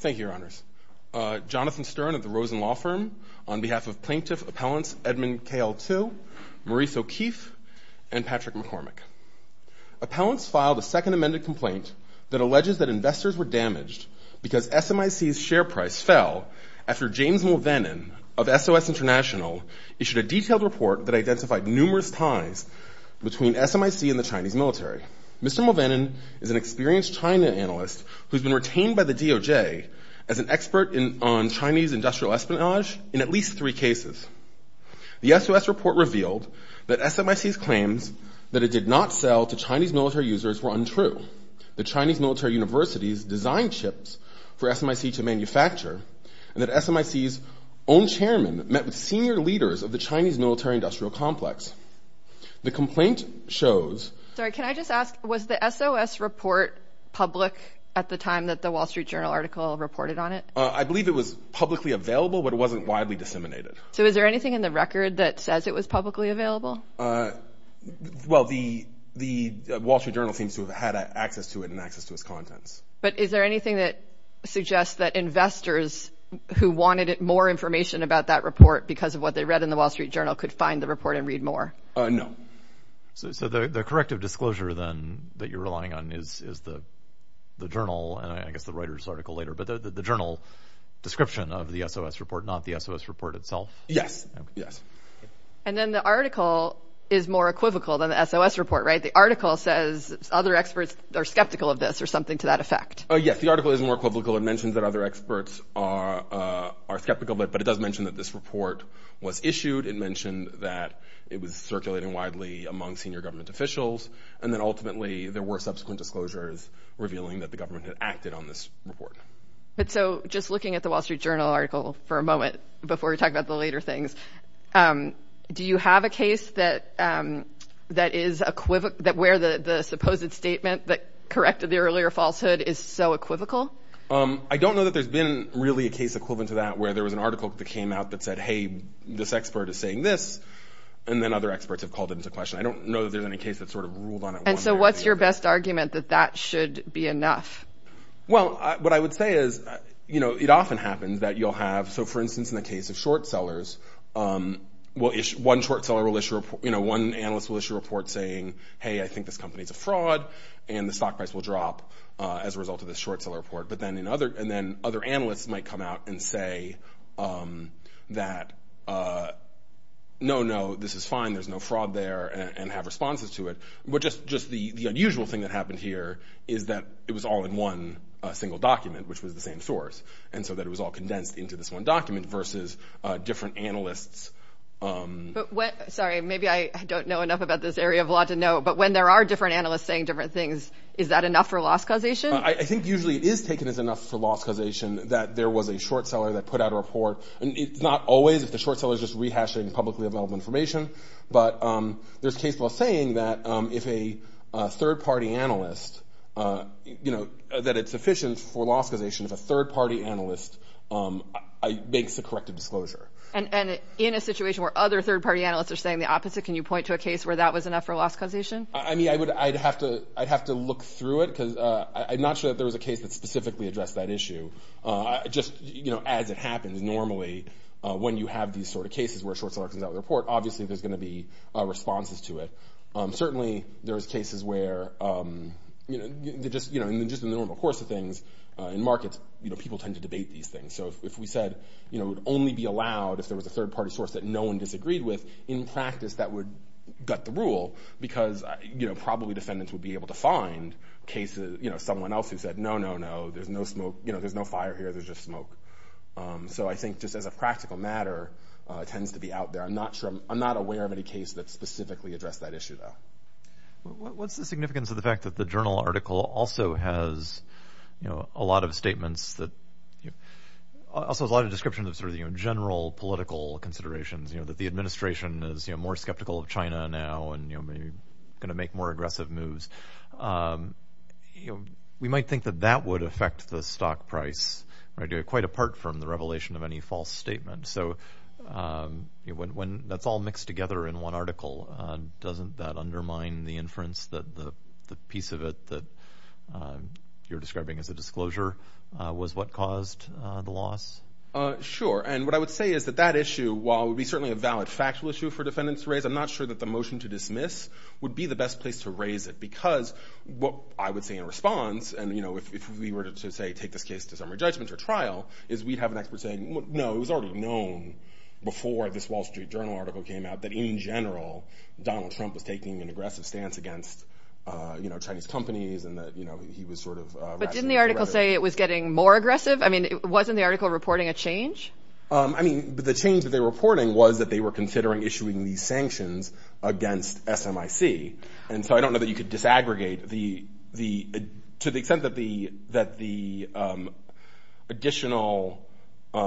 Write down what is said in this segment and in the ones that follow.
Thank you, Your Honours. Jonathan Stern of the Rosen Law Firm, on behalf of Plaintiff Appellants Edmund K.L. Till, Maurice O'Keefe, and Patrick McCormick. Appellants filed a second amended complaint that alleges that investors were damaged because SMIC's share price fell after James Mulvenon of SOS International issued a detailed report that identified numerous ties between SMIC and the Chinese military. Mr. Mulvenon is an experienced China analyst who has been retained by the DOJ as an expert on Chinese industrial espionage in at least three cases. The SOS report revealed that SMIC's claims that it did not sell to Chinese military users were untrue, that Chinese military universities designed chips for SMIC to manufacture, and that SMIC's own chairman met with senior leaders of the Chinese military-industrial complex. The complaint shows... Sorry, can I just ask, was the SOS report public at the time that the Wall Street Journal article reported on it? I believe it was publicly available, but it wasn't widely disseminated. So is there anything in the record that says it was publicly available? Well, the Wall Street Journal seems to have had access to it and access to its contents. But is there anything that suggests that investors who wanted more information about that report because of what they read in the Wall Street Journal could find the report and read more? No. So the corrective disclosure, then, that you're relying on is the journal, and I guess the Reuters article later, but the journal description of the SOS report, not the SOS report itself? Yes, yes. And then the article is more equivocal than the SOS report, right? The article says other experts are skeptical of this or something to that effect. Yes, the article is more equivocal. The article mentions that other experts are skeptical of it, but it does mention that this report was issued. It mentioned that it was circulating widely among senior government officials, and then ultimately there were subsequent disclosures revealing that the government had acted on this report. But so just looking at the Wall Street Journal article for a moment before we talk about the later things, do you have a case where the supposed statement that corrected the earlier falsehood is so equivocal? I don't know that there's been really a case equivalent to that where there was an article that came out that said, hey, this expert is saying this, and then other experts have called it into question. I don't know that there's any case that sort of ruled on it. And so what's your best argument that that should be enough? Well, what I would say is, you know, it often happens that you'll have, so for instance, in the case of short sellers, one short seller will issue a report, you know, one analyst will issue a report saying, hey, I think this company is a fraud, and the stock price will drop as a result of this short seller report. But then other analysts might come out and say that, no, no, this is fine. There's no fraud there, and have responses to it. But just the unusual thing that happened here is that it was all in one single document, which was the same source, and so that it was all condensed into this one document versus different analysts. Sorry, maybe I don't know enough about this area of law to know, but when there are different analysts saying different things, is that enough for loss causation? I think usually it is taken as enough for loss causation that there was a short seller that put out a report. And it's not always if the short seller is just rehashing publicly available information. But there's case law saying that if a third-party analyst, you know, that it's sufficient for loss causation, if a third-party analyst makes a corrective disclosure. And in a situation where other third-party analysts are saying the opposite, can you point to a case where that was enough for loss causation? I mean, I'd have to look through it because I'm not sure that there was a case that specifically addressed that issue. Just, you know, as it happens normally when you have these sort of cases where a short seller comes out with a report, obviously there's going to be responses to it. Certainly there's cases where, you know, just in the normal course of things in markets, you know, people tend to debate these things. So if we said, you know, it would only be allowed if there was a third-party source that no one disagreed with, in practice that would gut the rule because, you know, probably defendants would be able to find cases, you know, someone else who said, no, no, no, there's no smoke, you know, there's no fire here, there's just smoke. So I think just as a practical matter, it tends to be out there. I'm not sure, I'm not aware of any case that specifically addressed that issue, though. What's the significance of the fact that the journal article also has, you know, a lot of statements that, also a lot of descriptions of sort of, you know, general political considerations, you know, that the administration is, you know, more skeptical of China now and, you know, maybe going to make more aggressive moves. You know, we might think that that would affect the stock price, right, quite apart from the revelation of any false statement. So when that's all mixed together in one article, doesn't that undermine the inference that the piece of it that you're describing as a disclosure was what caused the loss? Sure. And what I would say is that that issue, while it would be certainly a valid factual issue for defendants to raise, I'm not sure that the motion to dismiss would be the best place to raise it because what I would say in response, and, you know, if we were to, say, take this case to summary judgment or trial, is we'd have an expert saying, no, it was already known before this Wall Street Journal article came out that, in general, Donald Trump was taking an aggressive stance against, you know, Chinese companies and that, you know, he was sort of- But didn't the article say it was getting more aggressive? I mean, wasn't the article reporting a change? I mean, the change that they were reporting was that they were considering issuing these sanctions against SMIC. And so I don't know that you could disaggregate the-to the extent that the additional, you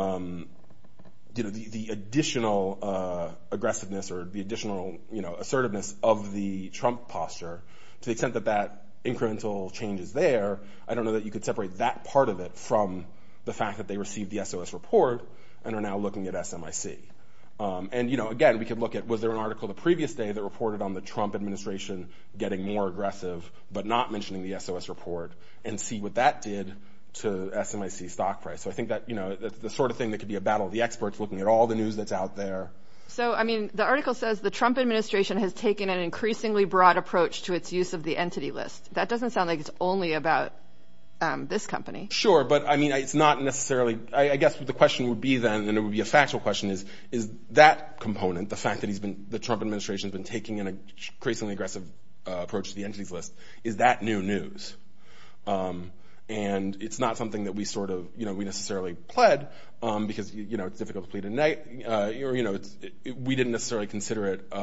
know, the additional aggressiveness or the additional, you know, assertiveness of the Trump posture, to the extent that that incremental change is there, I don't know that you could separate that part of it from the fact that they received the SOS report and are now looking at SMIC. And, you know, again, we could look at, was there an article the previous day that reported on the Trump administration getting more aggressive, but not mentioning the SOS report, and see what that did to SMIC stock price. So I think that, you know, the sort of thing that could be a battle of the experts looking at all the news that's out there. So, I mean, the article says the Trump administration has taken an increasingly broad approach to its use of the entity list. That doesn't sound like it's only about this company. Sure, but, I mean, it's not necessarily- I guess the question would be then, and it would be a factual question, is that component, the fact that he's been-the Trump administration has been taking an increasingly aggressive approach to the entities list, is that new news? And it's not something that we sort of, you know, we necessarily pled, because, you know, it's difficult to plead a knight. You know, we didn't necessarily consider it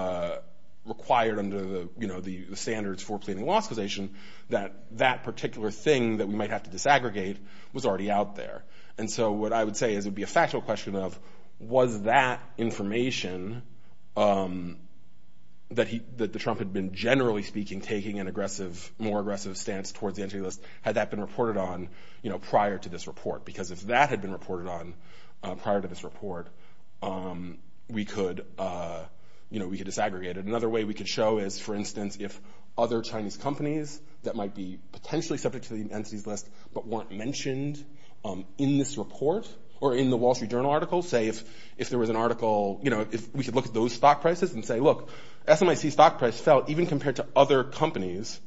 required under the, you know, the standards for pleading law accusation, that that particular thing that we might have to disaggregate was already out there. And so what I would say is it would be a factual question of, was that information that the Trump had been, generally speaking, taking an aggressive-more aggressive stance towards the entity list, had that been reported on, you know, prior to this report? Because if that had been reported on prior to this report, we could, you know, we could disaggregate it. Another way we could show is, for instance, if other Chinese companies that might be potentially subject to the entities list but weren't mentioned in this report or in the Wall Street Journal article, say if there was an article, you know, if we could look at those stock prices and say, look, SMIC stock price fell even compared to other companies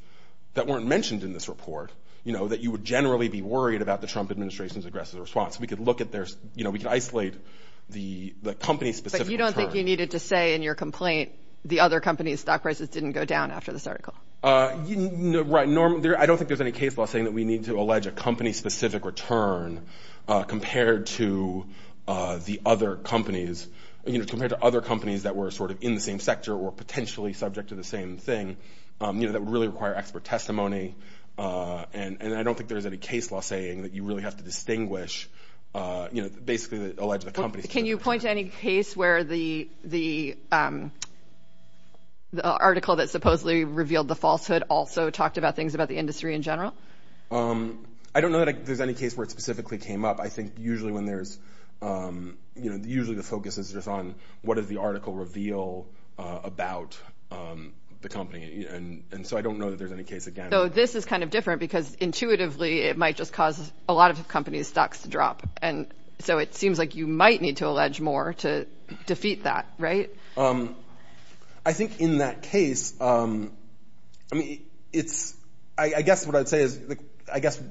that weren't mentioned in this report, you know, that you would generally be worried about the Trump administration's aggressive response. We could look at their-you know, we could isolate the company- But you don't think you needed to say in your complaint the other companies' stock prices didn't go down after this article? Right. I don't think there's any case law saying that we need to allege a company-specific return compared to the other companies, you know, compared to other companies that were sort of in the same sector or potentially subject to the same thing, you know, that would really require expert testimony. And I don't think there's any case law saying that you really have to distinguish, you know, basically allege the company's- Can you point to any case where the article that supposedly revealed the falsehood also talked about things about the industry in general? I don't know that there's any case where it specifically came up. I think usually when there's-you know, usually the focus is just on what did the article reveal about the company. And so I don't know that there's any case again. So this is kind of different because intuitively it might just cause a lot of companies' stocks to drop. And so it seems like you might need to allege more to defeat that, right? I think in that case, I mean, it's-I guess what I'd say is-I guess,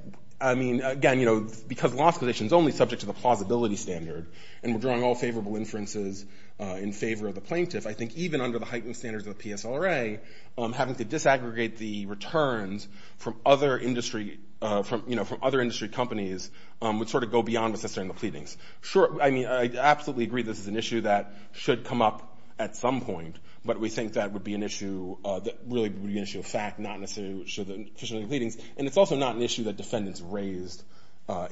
I mean, again, you know, because the law is only subject to the plausibility standard and we're drawing all favorable inferences in favor of the plaintiff, I think even under the heightened standards of the PSLRA, having to disaggregate the returns from other industry-you know, from other industry companies would sort of go beyond what's necessary in the pleadings. Sure, I mean, I absolutely agree this is an issue that should come up at some point, but we think that would be an issue-really would be an issue of fact, not necessarily what's necessary in the pleadings. And it's also not an issue that defendants raised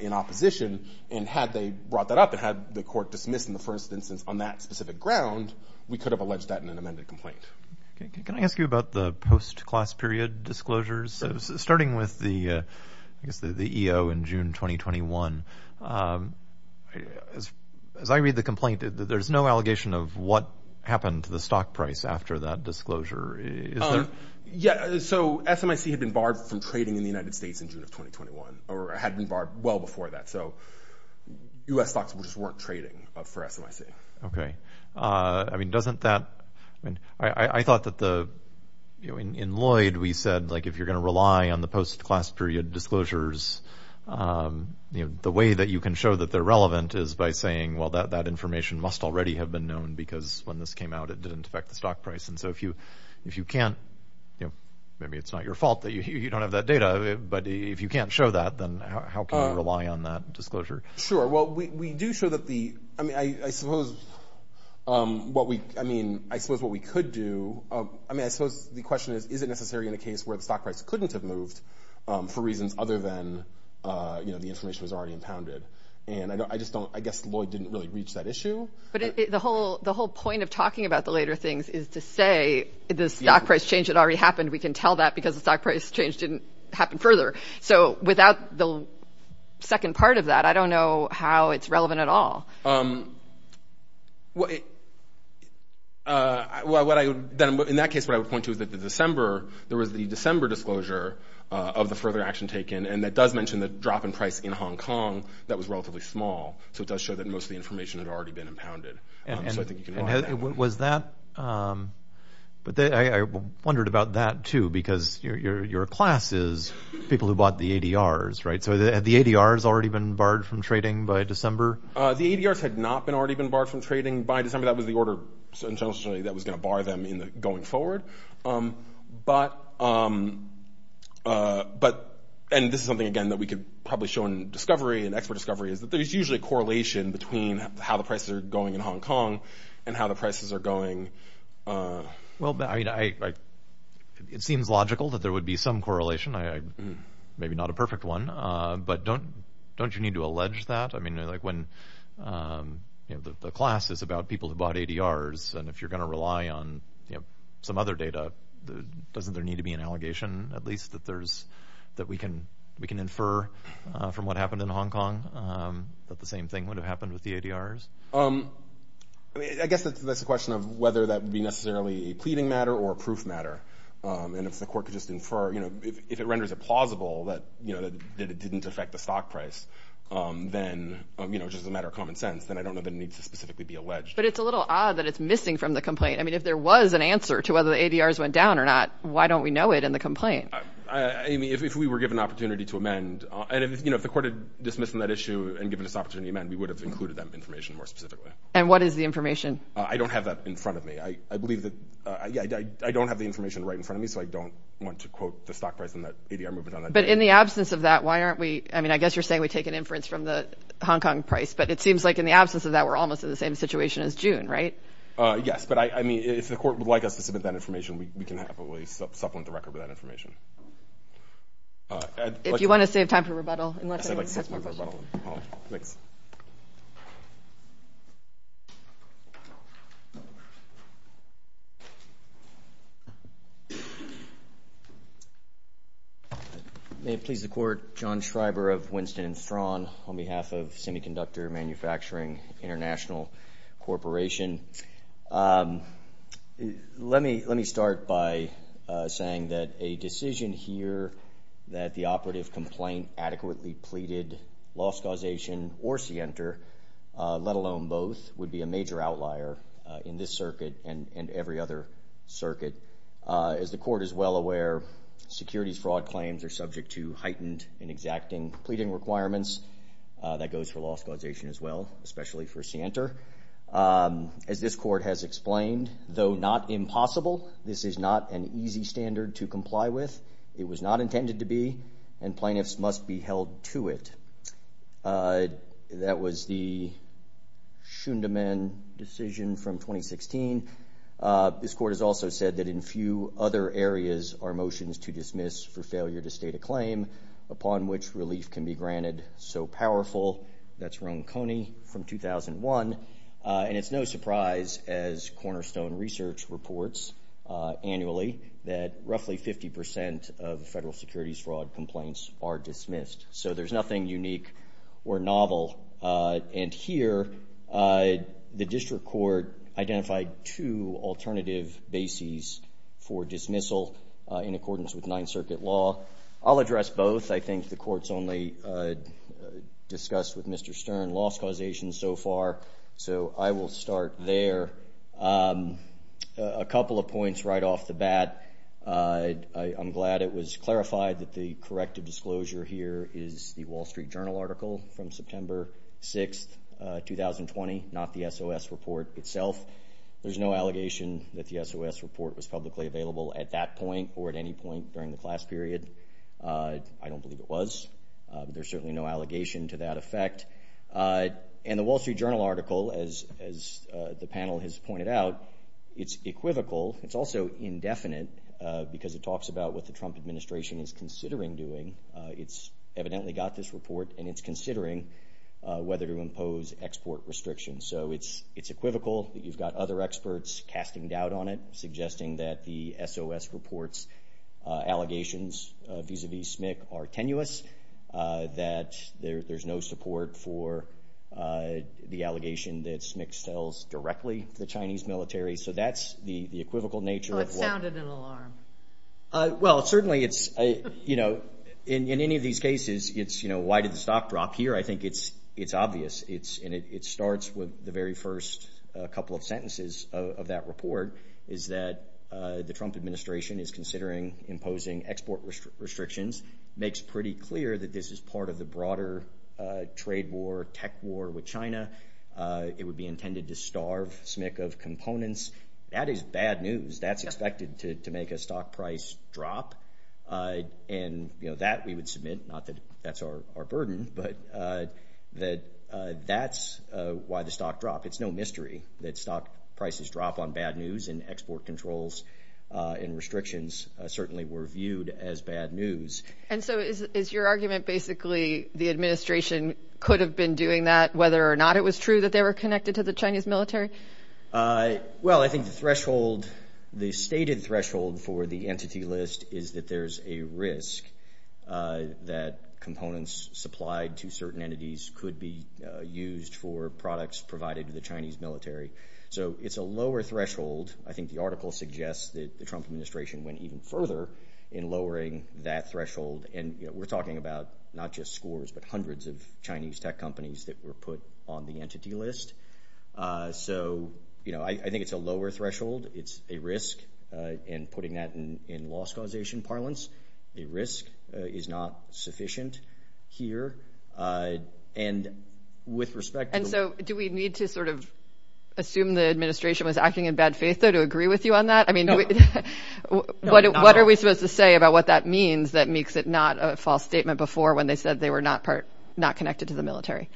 in opposition. And had they brought that up and had the court dismiss in the first instance on that specific ground, we could have alleged that in an amended complaint. Can I ask you about the post-class period disclosures? Starting with the EO in June 2021, as I read the complaint, there's no allegation of what happened to the stock price after that disclosure, is there? Yeah, so SMIC had been barred from trading in the United States in June of 2021 or had been barred well before that. So U.S. stocks just weren't trading for SMIC. Okay. I mean, doesn't that-I mean, I thought that the-you know, in Lloyd we said, like, if you're going to rely on the post-class period disclosures, you know, the way that you can show that they're relevant is by saying, well, that information must already have been known because when this came out, it didn't affect the stock price. And so if you can't-you know, maybe it's not your fault that you don't have that data, but if you can't show that, then how can you rely on that disclosure? Sure. Well, we do show that the-I mean, I suppose what we-I mean, I suppose what we could do- I mean, I suppose the question is, is it necessary in a case where the stock price couldn't have moved for reasons other than, you know, the information was already impounded? And I just don't-I guess Lloyd didn't really reach that issue. But the whole point of talking about the later things is to say the stock price change had already happened. We can tell that because the stock price change didn't happen further. So without the second part of that, I don't know how it's relevant at all. In that case, what I would point to is that the December-there was the December disclosure of the further action taken, and that does mention the drop in price in Hong Kong that was relatively small. So it does show that most of the information had already been impounded. So I think you can- Was that-I wondered about that, too, because your class is people who bought the ADRs, right? So had the ADRs already been barred from trading by December? The ADRs had not already been barred from trading by December. That was the order that was going to bar them going forward. But-and this is something, again, that we could probably show in discovery, in expert discovery, is that there's usually a correlation between how the prices are going in Hong Kong and how the prices are going- Well, I mean, it seems logical that there would be some correlation. Maybe not a perfect one, but don't you need to allege that? I mean, like when-the class is about people who bought ADRs, and if you're going to rely on some other data, doesn't there need to be an allegation, at least, that there's-that we can infer from what happened in Hong Kong that the same thing would have happened with the ADRs? I mean, I guess that's a question of whether that would be necessarily a pleading matter or a proof matter. And if the court could just infer, you know, if it renders it plausible that, you know, that it didn't affect the stock price, then, you know, just as a matter of common sense, then I don't know that it needs to specifically be alleged. But it's a little odd that it's missing from the complaint. I mean, if there was an answer to whether the ADRs went down or not, why don't we know it in the complaint? Amy, if we were given an opportunity to amend-and, you know, if the court had dismissed that issue and given us the opportunity to amend, we would have included that information more specifically. And what is the information? I don't have that in front of me. I believe that-I don't have the information right in front of me, so I don't want to quote the stock price and that ADR movement on that. But in the absence of that, why aren't we-I mean, I guess you're saying we take an inference from the Hong Kong price. But it seems like in the absence of that, we're almost in the same situation as June, right? Yes. But, I mean, if the court would like us to submit that information, we can happily supplement the record with that information. If you want to save time for rebuttal, unless anyone has more questions. Thanks. May it please the Court, John Schreiber of Winston & Strawn on behalf of Semiconductor Manufacturing International Corporation. Let me start by saying that a decision here that the operative complaint adequately pleaded loss causation or scienter, let alone both, would be a major outlier in this circuit and every other circuit. As the court is well aware, securities fraud claims are subject to heightened and exacting pleading requirements. That goes for loss causation as well, especially for scienter. As this court has explained, though not impossible, this is not an easy standard to comply with. It was not intended to be, and plaintiffs must be held to it. That was the Schundemann decision from 2016. This court has also said that in few other areas are motions to dismiss for failure to state a claim upon which relief can be granted so powerful. That's Ron Coney from 2001. And it's no surprise, as Cornerstone Research reports annually, that roughly 50% of federal securities fraud complaints are dismissed. So there's nothing unique or novel. And here the district court identified two alternative bases for dismissal in accordance with Ninth Circuit law. I'll address both. I think the court's only discussed with Mr. Stern loss causation so far, so I will start there. A couple of points right off the bat. I'm glad it was clarified that the corrective disclosure here is the Wall Street Journal article from September 6, 2020, not the SOS report itself. There's no allegation that the SOS report was publicly available at that point or at any point during the class period. I don't believe it was. There's certainly no allegation to that effect. And the Wall Street Journal article, as the panel has pointed out, it's equivocal. It's also indefinite because it talks about what the Trump administration is considering doing. It's evidently got this report, and it's considering whether to impose export restrictions. So it's equivocal. You've got other experts casting doubt on it, suggesting that the SOS report's allegations vis-à-vis SMIC are tenuous, that there's no support for the allegation that SMIC sells directly to the Chinese military. So that's the equivocal nature of what— So it sounded an alarm. Well, certainly it's—you know, in any of these cases, it's, you know, why did the stock drop here? I think it's obvious, and it starts with the very first couple of sentences of that report, is that the Trump administration is considering imposing export restrictions, makes pretty clear that this is part of the broader trade war, tech war with China. It would be intended to starve SMIC of components. That is bad news. That's expected to make a stock price drop. And, you know, that we would submit, not that that's our burden, but that that's why the stock dropped. It's no mystery that stock prices drop on bad news, and export controls and restrictions certainly were viewed as bad news. And so is your argument basically the administration could have been doing that, whether or not it was true that they were connected to the Chinese military? Well, I think the threshold, the stated threshold for the entity list, is that there's a risk that components supplied to certain entities could be used for products provided to the Chinese military. So it's a lower threshold. I think the article suggests that the Trump administration went even further in lowering that threshold. And we're talking about not just scores, but hundreds of Chinese tech companies that were put on the entity list. So, you know, I think it's a lower threshold. It's a risk, and putting that in loss causation parlance, a risk is not sufficient here. And with respect to the- And so do we need to sort of assume the administration was acting in bad faith, though, to agree with you on that? I mean, what are we supposed to say about what that means that makes it not a false statement before when they said they were not connected to the military?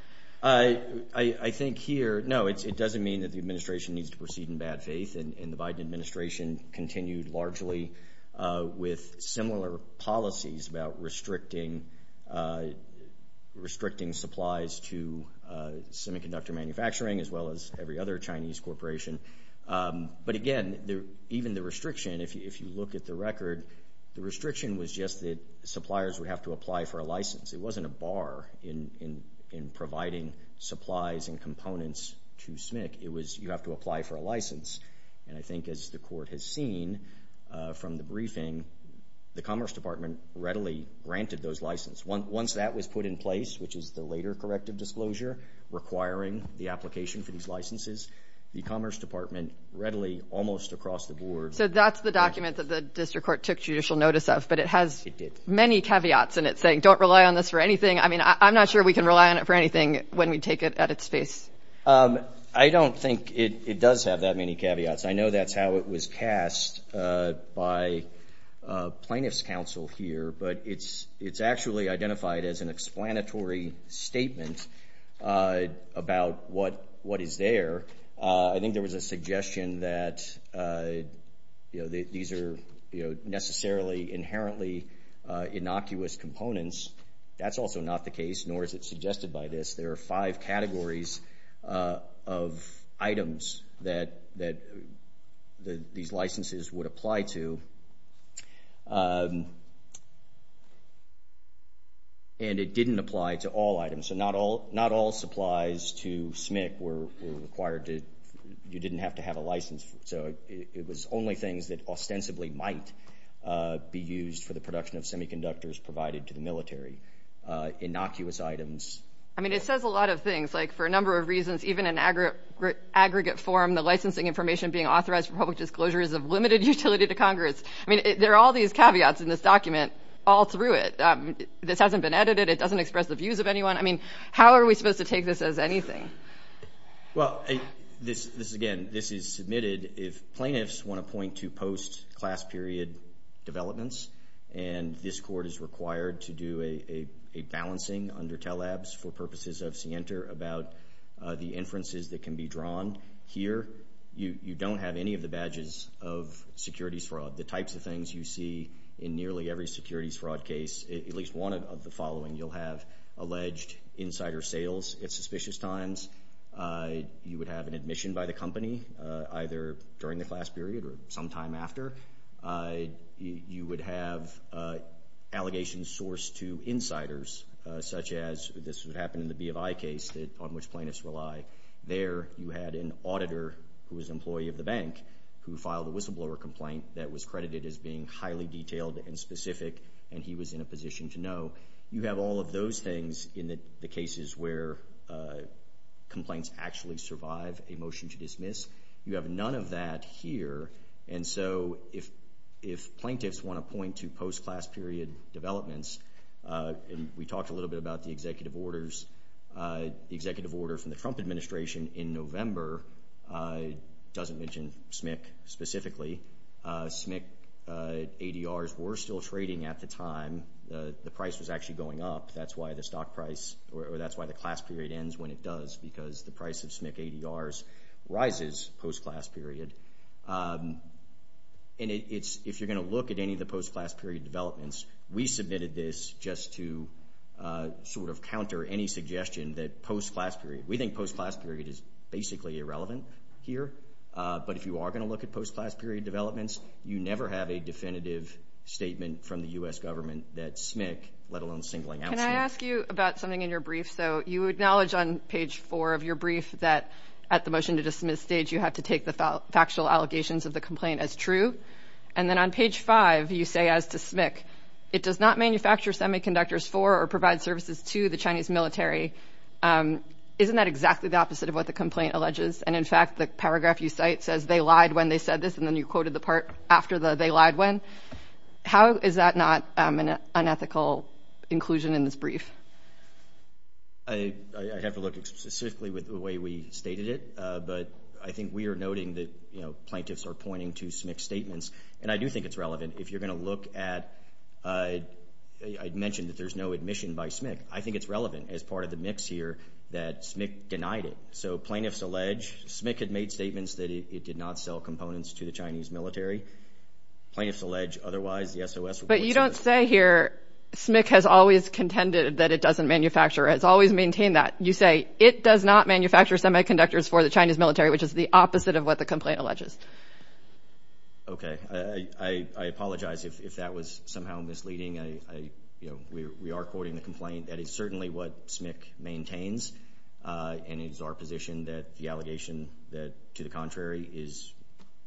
I think here, no, it doesn't mean that the administration needs to proceed in bad faith. And the Biden administration continued largely with similar policies about restricting supplies to semiconductor manufacturing, as well as every other Chinese corporation. But again, even the restriction, if you look at the record, the restriction was just that suppliers would have to apply for a license. It wasn't a bar in providing supplies and components to SMIC. It was you have to apply for a license. And I think, as the court has seen from the briefing, the Commerce Department readily granted those licenses. Once that was put in place, which is the later corrective disclosure requiring the application for these licenses, the Commerce Department readily, almost across the board- So that's the document that the district court took judicial notice of, but it has- It did. It has many caveats in it saying, don't rely on this for anything. I mean, I'm not sure we can rely on it for anything when we take it at its face. I don't think it does have that many caveats. I know that's how it was cast by plaintiffs' counsel here, but it's actually identified as an explanatory statement about what is there. I think there was a suggestion that these are necessarily inherently innocuous components. That's also not the case, nor is it suggested by this. There are five categories of items that these licenses would apply to, and it didn't apply to all items. So not all supplies to SMIC were required. You didn't have to have a license. So it was only things that ostensibly might be used for the production of semiconductors provided to the military, innocuous items. I mean, it says a lot of things, like for a number of reasons, even in aggregate form, the licensing information being authorized for public disclosure is of limited utility to Congress. I mean, there are all these caveats in this document all through it. This hasn't been edited. It doesn't express the views of anyone. I mean, how are we supposed to take this as anything? Well, again, this is submitted. If plaintiffs want to point to post-class period developments, and this court is required to do a balancing under TELABS for purposes of CNTER about the inferences that can be drawn here, you don't have any of the badges of securities fraud. Of the types of things you see in nearly every securities fraud case, at least one of the following, you'll have alleged insider sales at suspicious times. You would have an admission by the company, either during the class period or sometime after. You would have allegations sourced to insiders, such as this would happen in the BFI case on which plaintiffs rely. There you had an auditor who was an employee of the bank who filed a whistleblower complaint that was credited as being highly detailed and specific, and he was in a position to know. You have all of those things in the cases where complaints actually survive a motion to dismiss. You have none of that here, and so if plaintiffs want to point to post-class period developments, we talked a little bit about the executive order from the Trump administration in November. It doesn't mention SMIC specifically. SMIC ADRs were still trading at the time. The price was actually going up. That's why the class period ends when it does, because the price of SMIC ADRs rises post-class period. And if you're going to look at any of the post-class period developments, we submitted this just to sort of counter any suggestion that post-class period. We think post-class period is basically irrelevant here, but if you are going to look at post-class period developments, you never have a definitive statement from the U.S. government that SMIC, let alone singling out SMIC. Can I ask you about something in your brief? So you acknowledge on page four of your brief that at the motion to dismiss stage, you have to take the factual allegations of the complaint as true, and then on page five, you say as to SMIC, it does not manufacture semiconductors for or provide services to the Chinese military. Isn't that exactly the opposite of what the complaint alleges? And, in fact, the paragraph you cite says they lied when they said this, and then you quoted the part after the they lied when. How is that not an unethical inclusion in this brief? I have to look specifically with the way we stated it, but I think we are noting that, you know, plaintiffs are pointing to SMIC statements, and I do think it's relevant if you're going to look at it. I mentioned that there's no admission by SMIC. I think it's relevant as part of the mix here that SMIC denied it. So plaintiffs allege SMIC had made statements that it did not sell components to the Chinese military. Plaintiffs allege otherwise the SOS reports. But you don't say here SMIC has always contended that it doesn't manufacture. It's always maintained that. You say it does not manufacture semiconductors for the Chinese military, which is the opposite of what the complaint alleges. Okay. I apologize if that was somehow misleading. You know, we are quoting the complaint. That is certainly what SMIC maintains, and it is our position that the allegation to the contrary is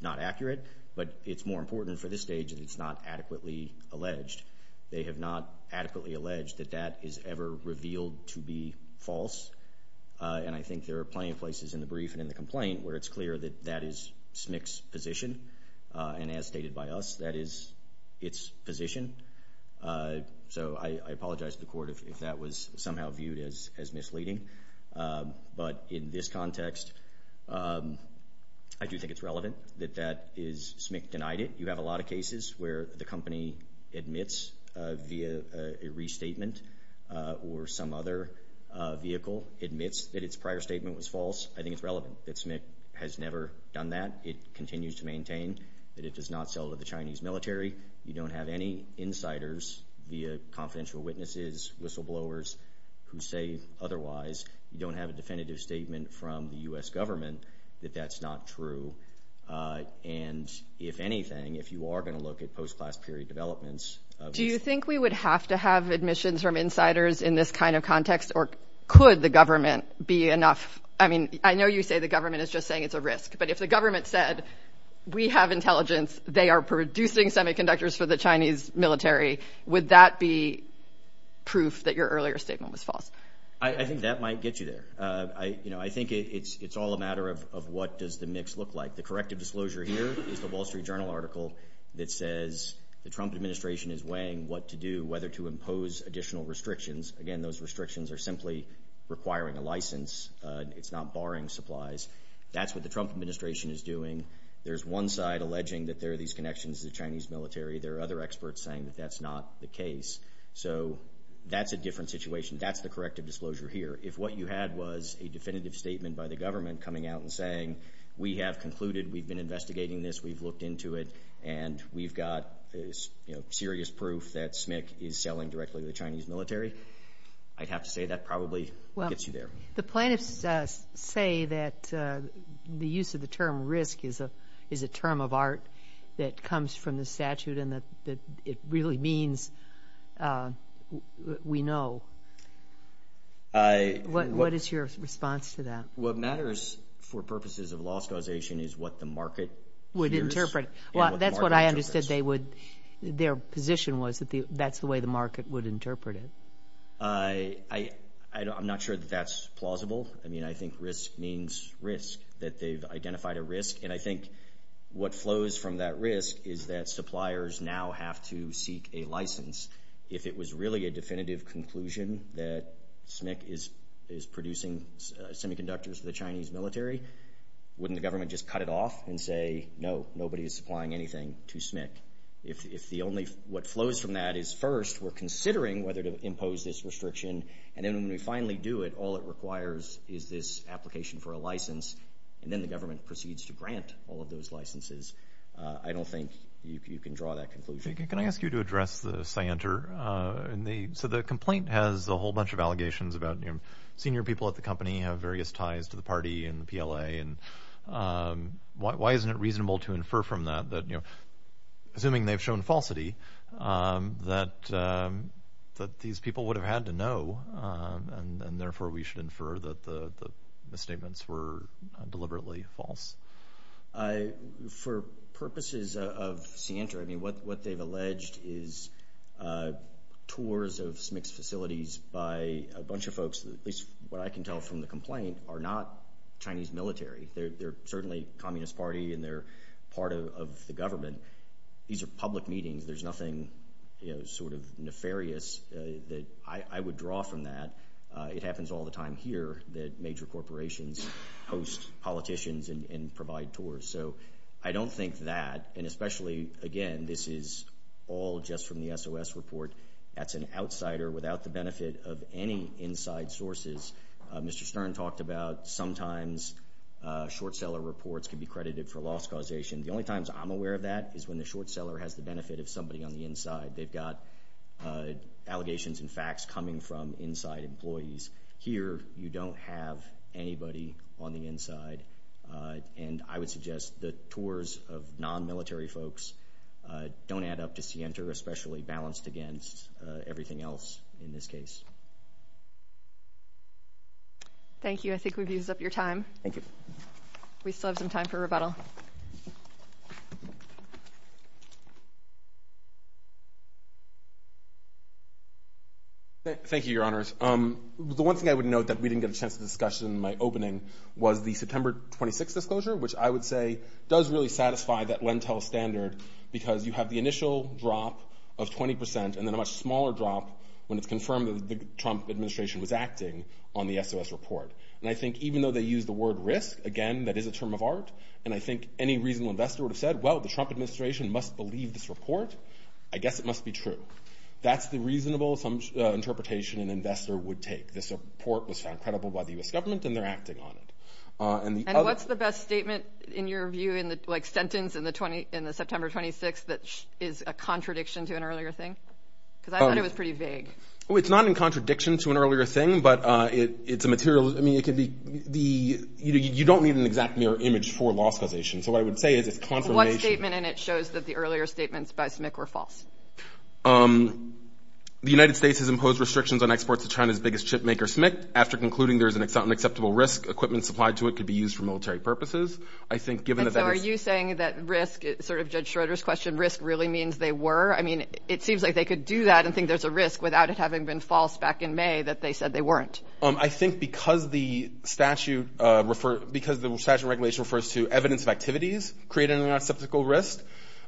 not accurate, but it's more important for this stage that it's not adequately alleged. They have not adequately alleged that that is ever revealed to be false, and I think there are plenty of places in the brief and in the complaint where it's clear that that is SMIC's position, and as stated by us, that is its position. So I apologize to the court if that was somehow viewed as misleading. But in this context, I do think it's relevant that that is SMIC denied it. You have a lot of cases where the company admits via a restatement or some other vehicle admits that its prior statement was false. I think it's relevant that SMIC has never done that. It continues to maintain that it does not sell to the Chinese military. You don't have any insiders via confidential witnesses, whistleblowers who say otherwise. You don't have a definitive statement from the U.S. government that that's not true. And if anything, if you are going to look at post-class period developments. Do you think we would have to have admissions from insiders in this kind of context, or could the government be enough? I mean, I know you say the government is just saying it's a risk, but if the government said we have intelligence, they are producing semiconductors for the Chinese military, would that be proof that your earlier statement was false? I think that might get you there. I think it's all a matter of what does the mix look like. The corrective disclosure here is the Wall Street Journal article that says the Trump administration is weighing what to do, whether to impose additional restrictions. Again, those restrictions are simply requiring a license. It's not barring supplies. That's what the Trump administration is doing. There's one side alleging that there are these connections to the Chinese military. There are other experts saying that that's not the case. So that's a different situation. That's the corrective disclosure here. If what you had was a definitive statement by the government coming out and saying, we have concluded, we've been investigating this, we've looked into it, and we've got serious proof that SMIC is selling directly to the Chinese military, I'd have to say that probably gets you there. The plaintiffs say that the use of the term risk is a term of art that comes from the statute and that it really means we know. What is your response to that? What matters for purposes of law scholarsation is what the market hears and what the market interprets. Well, that's what I understood their position was, that that's the way the market would interpret it. I'm not sure that that's plausible. I mean, I think risk means risk, that they've identified a risk. And I think what flows from that risk is that suppliers now have to seek a license. If it was really a definitive conclusion that SMIC is producing semiconductors for the Chinese military, wouldn't the government just cut it off and say, no, nobody is supplying anything to SMIC? If what flows from that is, first, we're considering whether to impose this restriction, and then when we finally do it, all it requires is this application for a license, and then the government proceeds to grant all of those licenses, I don't think you can draw that conclusion. Can I ask you to address the scienter? So the complaint has a whole bunch of allegations about senior people at the company have various ties to the party and the PLA. Why isn't it reasonable to infer from that, assuming they've shown falsity, that these people would have had to know, and therefore we should infer that the statements were deliberately false? For purposes of scienter, what they've alleged is tours of SMIC's facilities by a bunch of folks, at least what I can tell from the complaint, are not Chinese military. They're certainly Communist Party and they're part of the government. These are public meetings. There's nothing sort of nefarious that I would draw from that. It happens all the time here that major corporations host politicians and provide tours. So I don't think that, and especially, again, this is all just from the SOS report, that's an outsider without the benefit of any inside sources. Mr. Stern talked about sometimes short-seller reports can be credited for loss causation. The only times I'm aware of that is when the short-seller has the benefit of somebody on the inside. They've got allegations and facts coming from inside employees. Here you don't have anybody on the inside, and I would suggest the tours of non-military folks don't add up to scienter, especially balanced against everything else in this case. Thank you. I think we've used up your time. Thank you. We still have some time for rebuttal. Thank you, Your Honors. The one thing I would note that we didn't get a chance to discuss in my opening was the September 26 disclosure, which I would say does really satisfy that Lentil standard because you have the initial drop of 20 percent and then a much smaller drop when it's confirmed that the Trump administration was acting on the SOS report. And I think even though they use the word risk, again, that is a term of art, and I think any reasonable investor would have said, well, the Trump administration must believe this report. I guess it must be true. That's the reasonable interpretation an investor would take. This report was found credible by the U.S. government, and they're acting on it. And what's the best statement in your view in the sentence in September 26 that is a contradiction to an earlier thing? Because I thought it was pretty vague. It's not in contradiction to an earlier thing, but it's a material. I mean, you don't need an exact mirror image for loss causation. So what I would say is it's confirmation. What statement in it shows that the earlier statements by SMIC were false? The United States has imposed restrictions on exports to China's biggest chip maker, SMIC. After concluding there is an unacceptable risk, equipment supplied to it could be used for military purposes. And so are you saying that risk, sort of Judge Schroeder's question, risk really means they were? I mean, it seems like they could do that and think there's a risk without it having been false back in May that they said they weren't. I think because the statute refers to evidence of activities creating an unacceptable risk,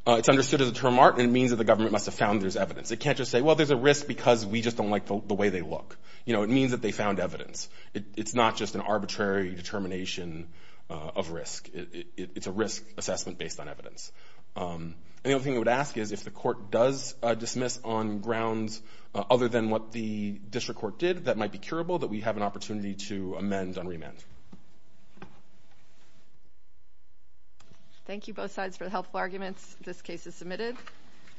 it's understood as a term art, and it means that the government must have found there's evidence. It can't just say, well, there's a risk because we just don't like the way they look. You know, it means that they found evidence. It's not just an arbitrary determination of risk. It's a risk assessment based on evidence. And the only thing I would ask is if the court does dismiss on grounds other than what the district court did that might be curable, that we have an opportunity to amend and remand. Thank you both sides for the helpful arguments. This case is submitted.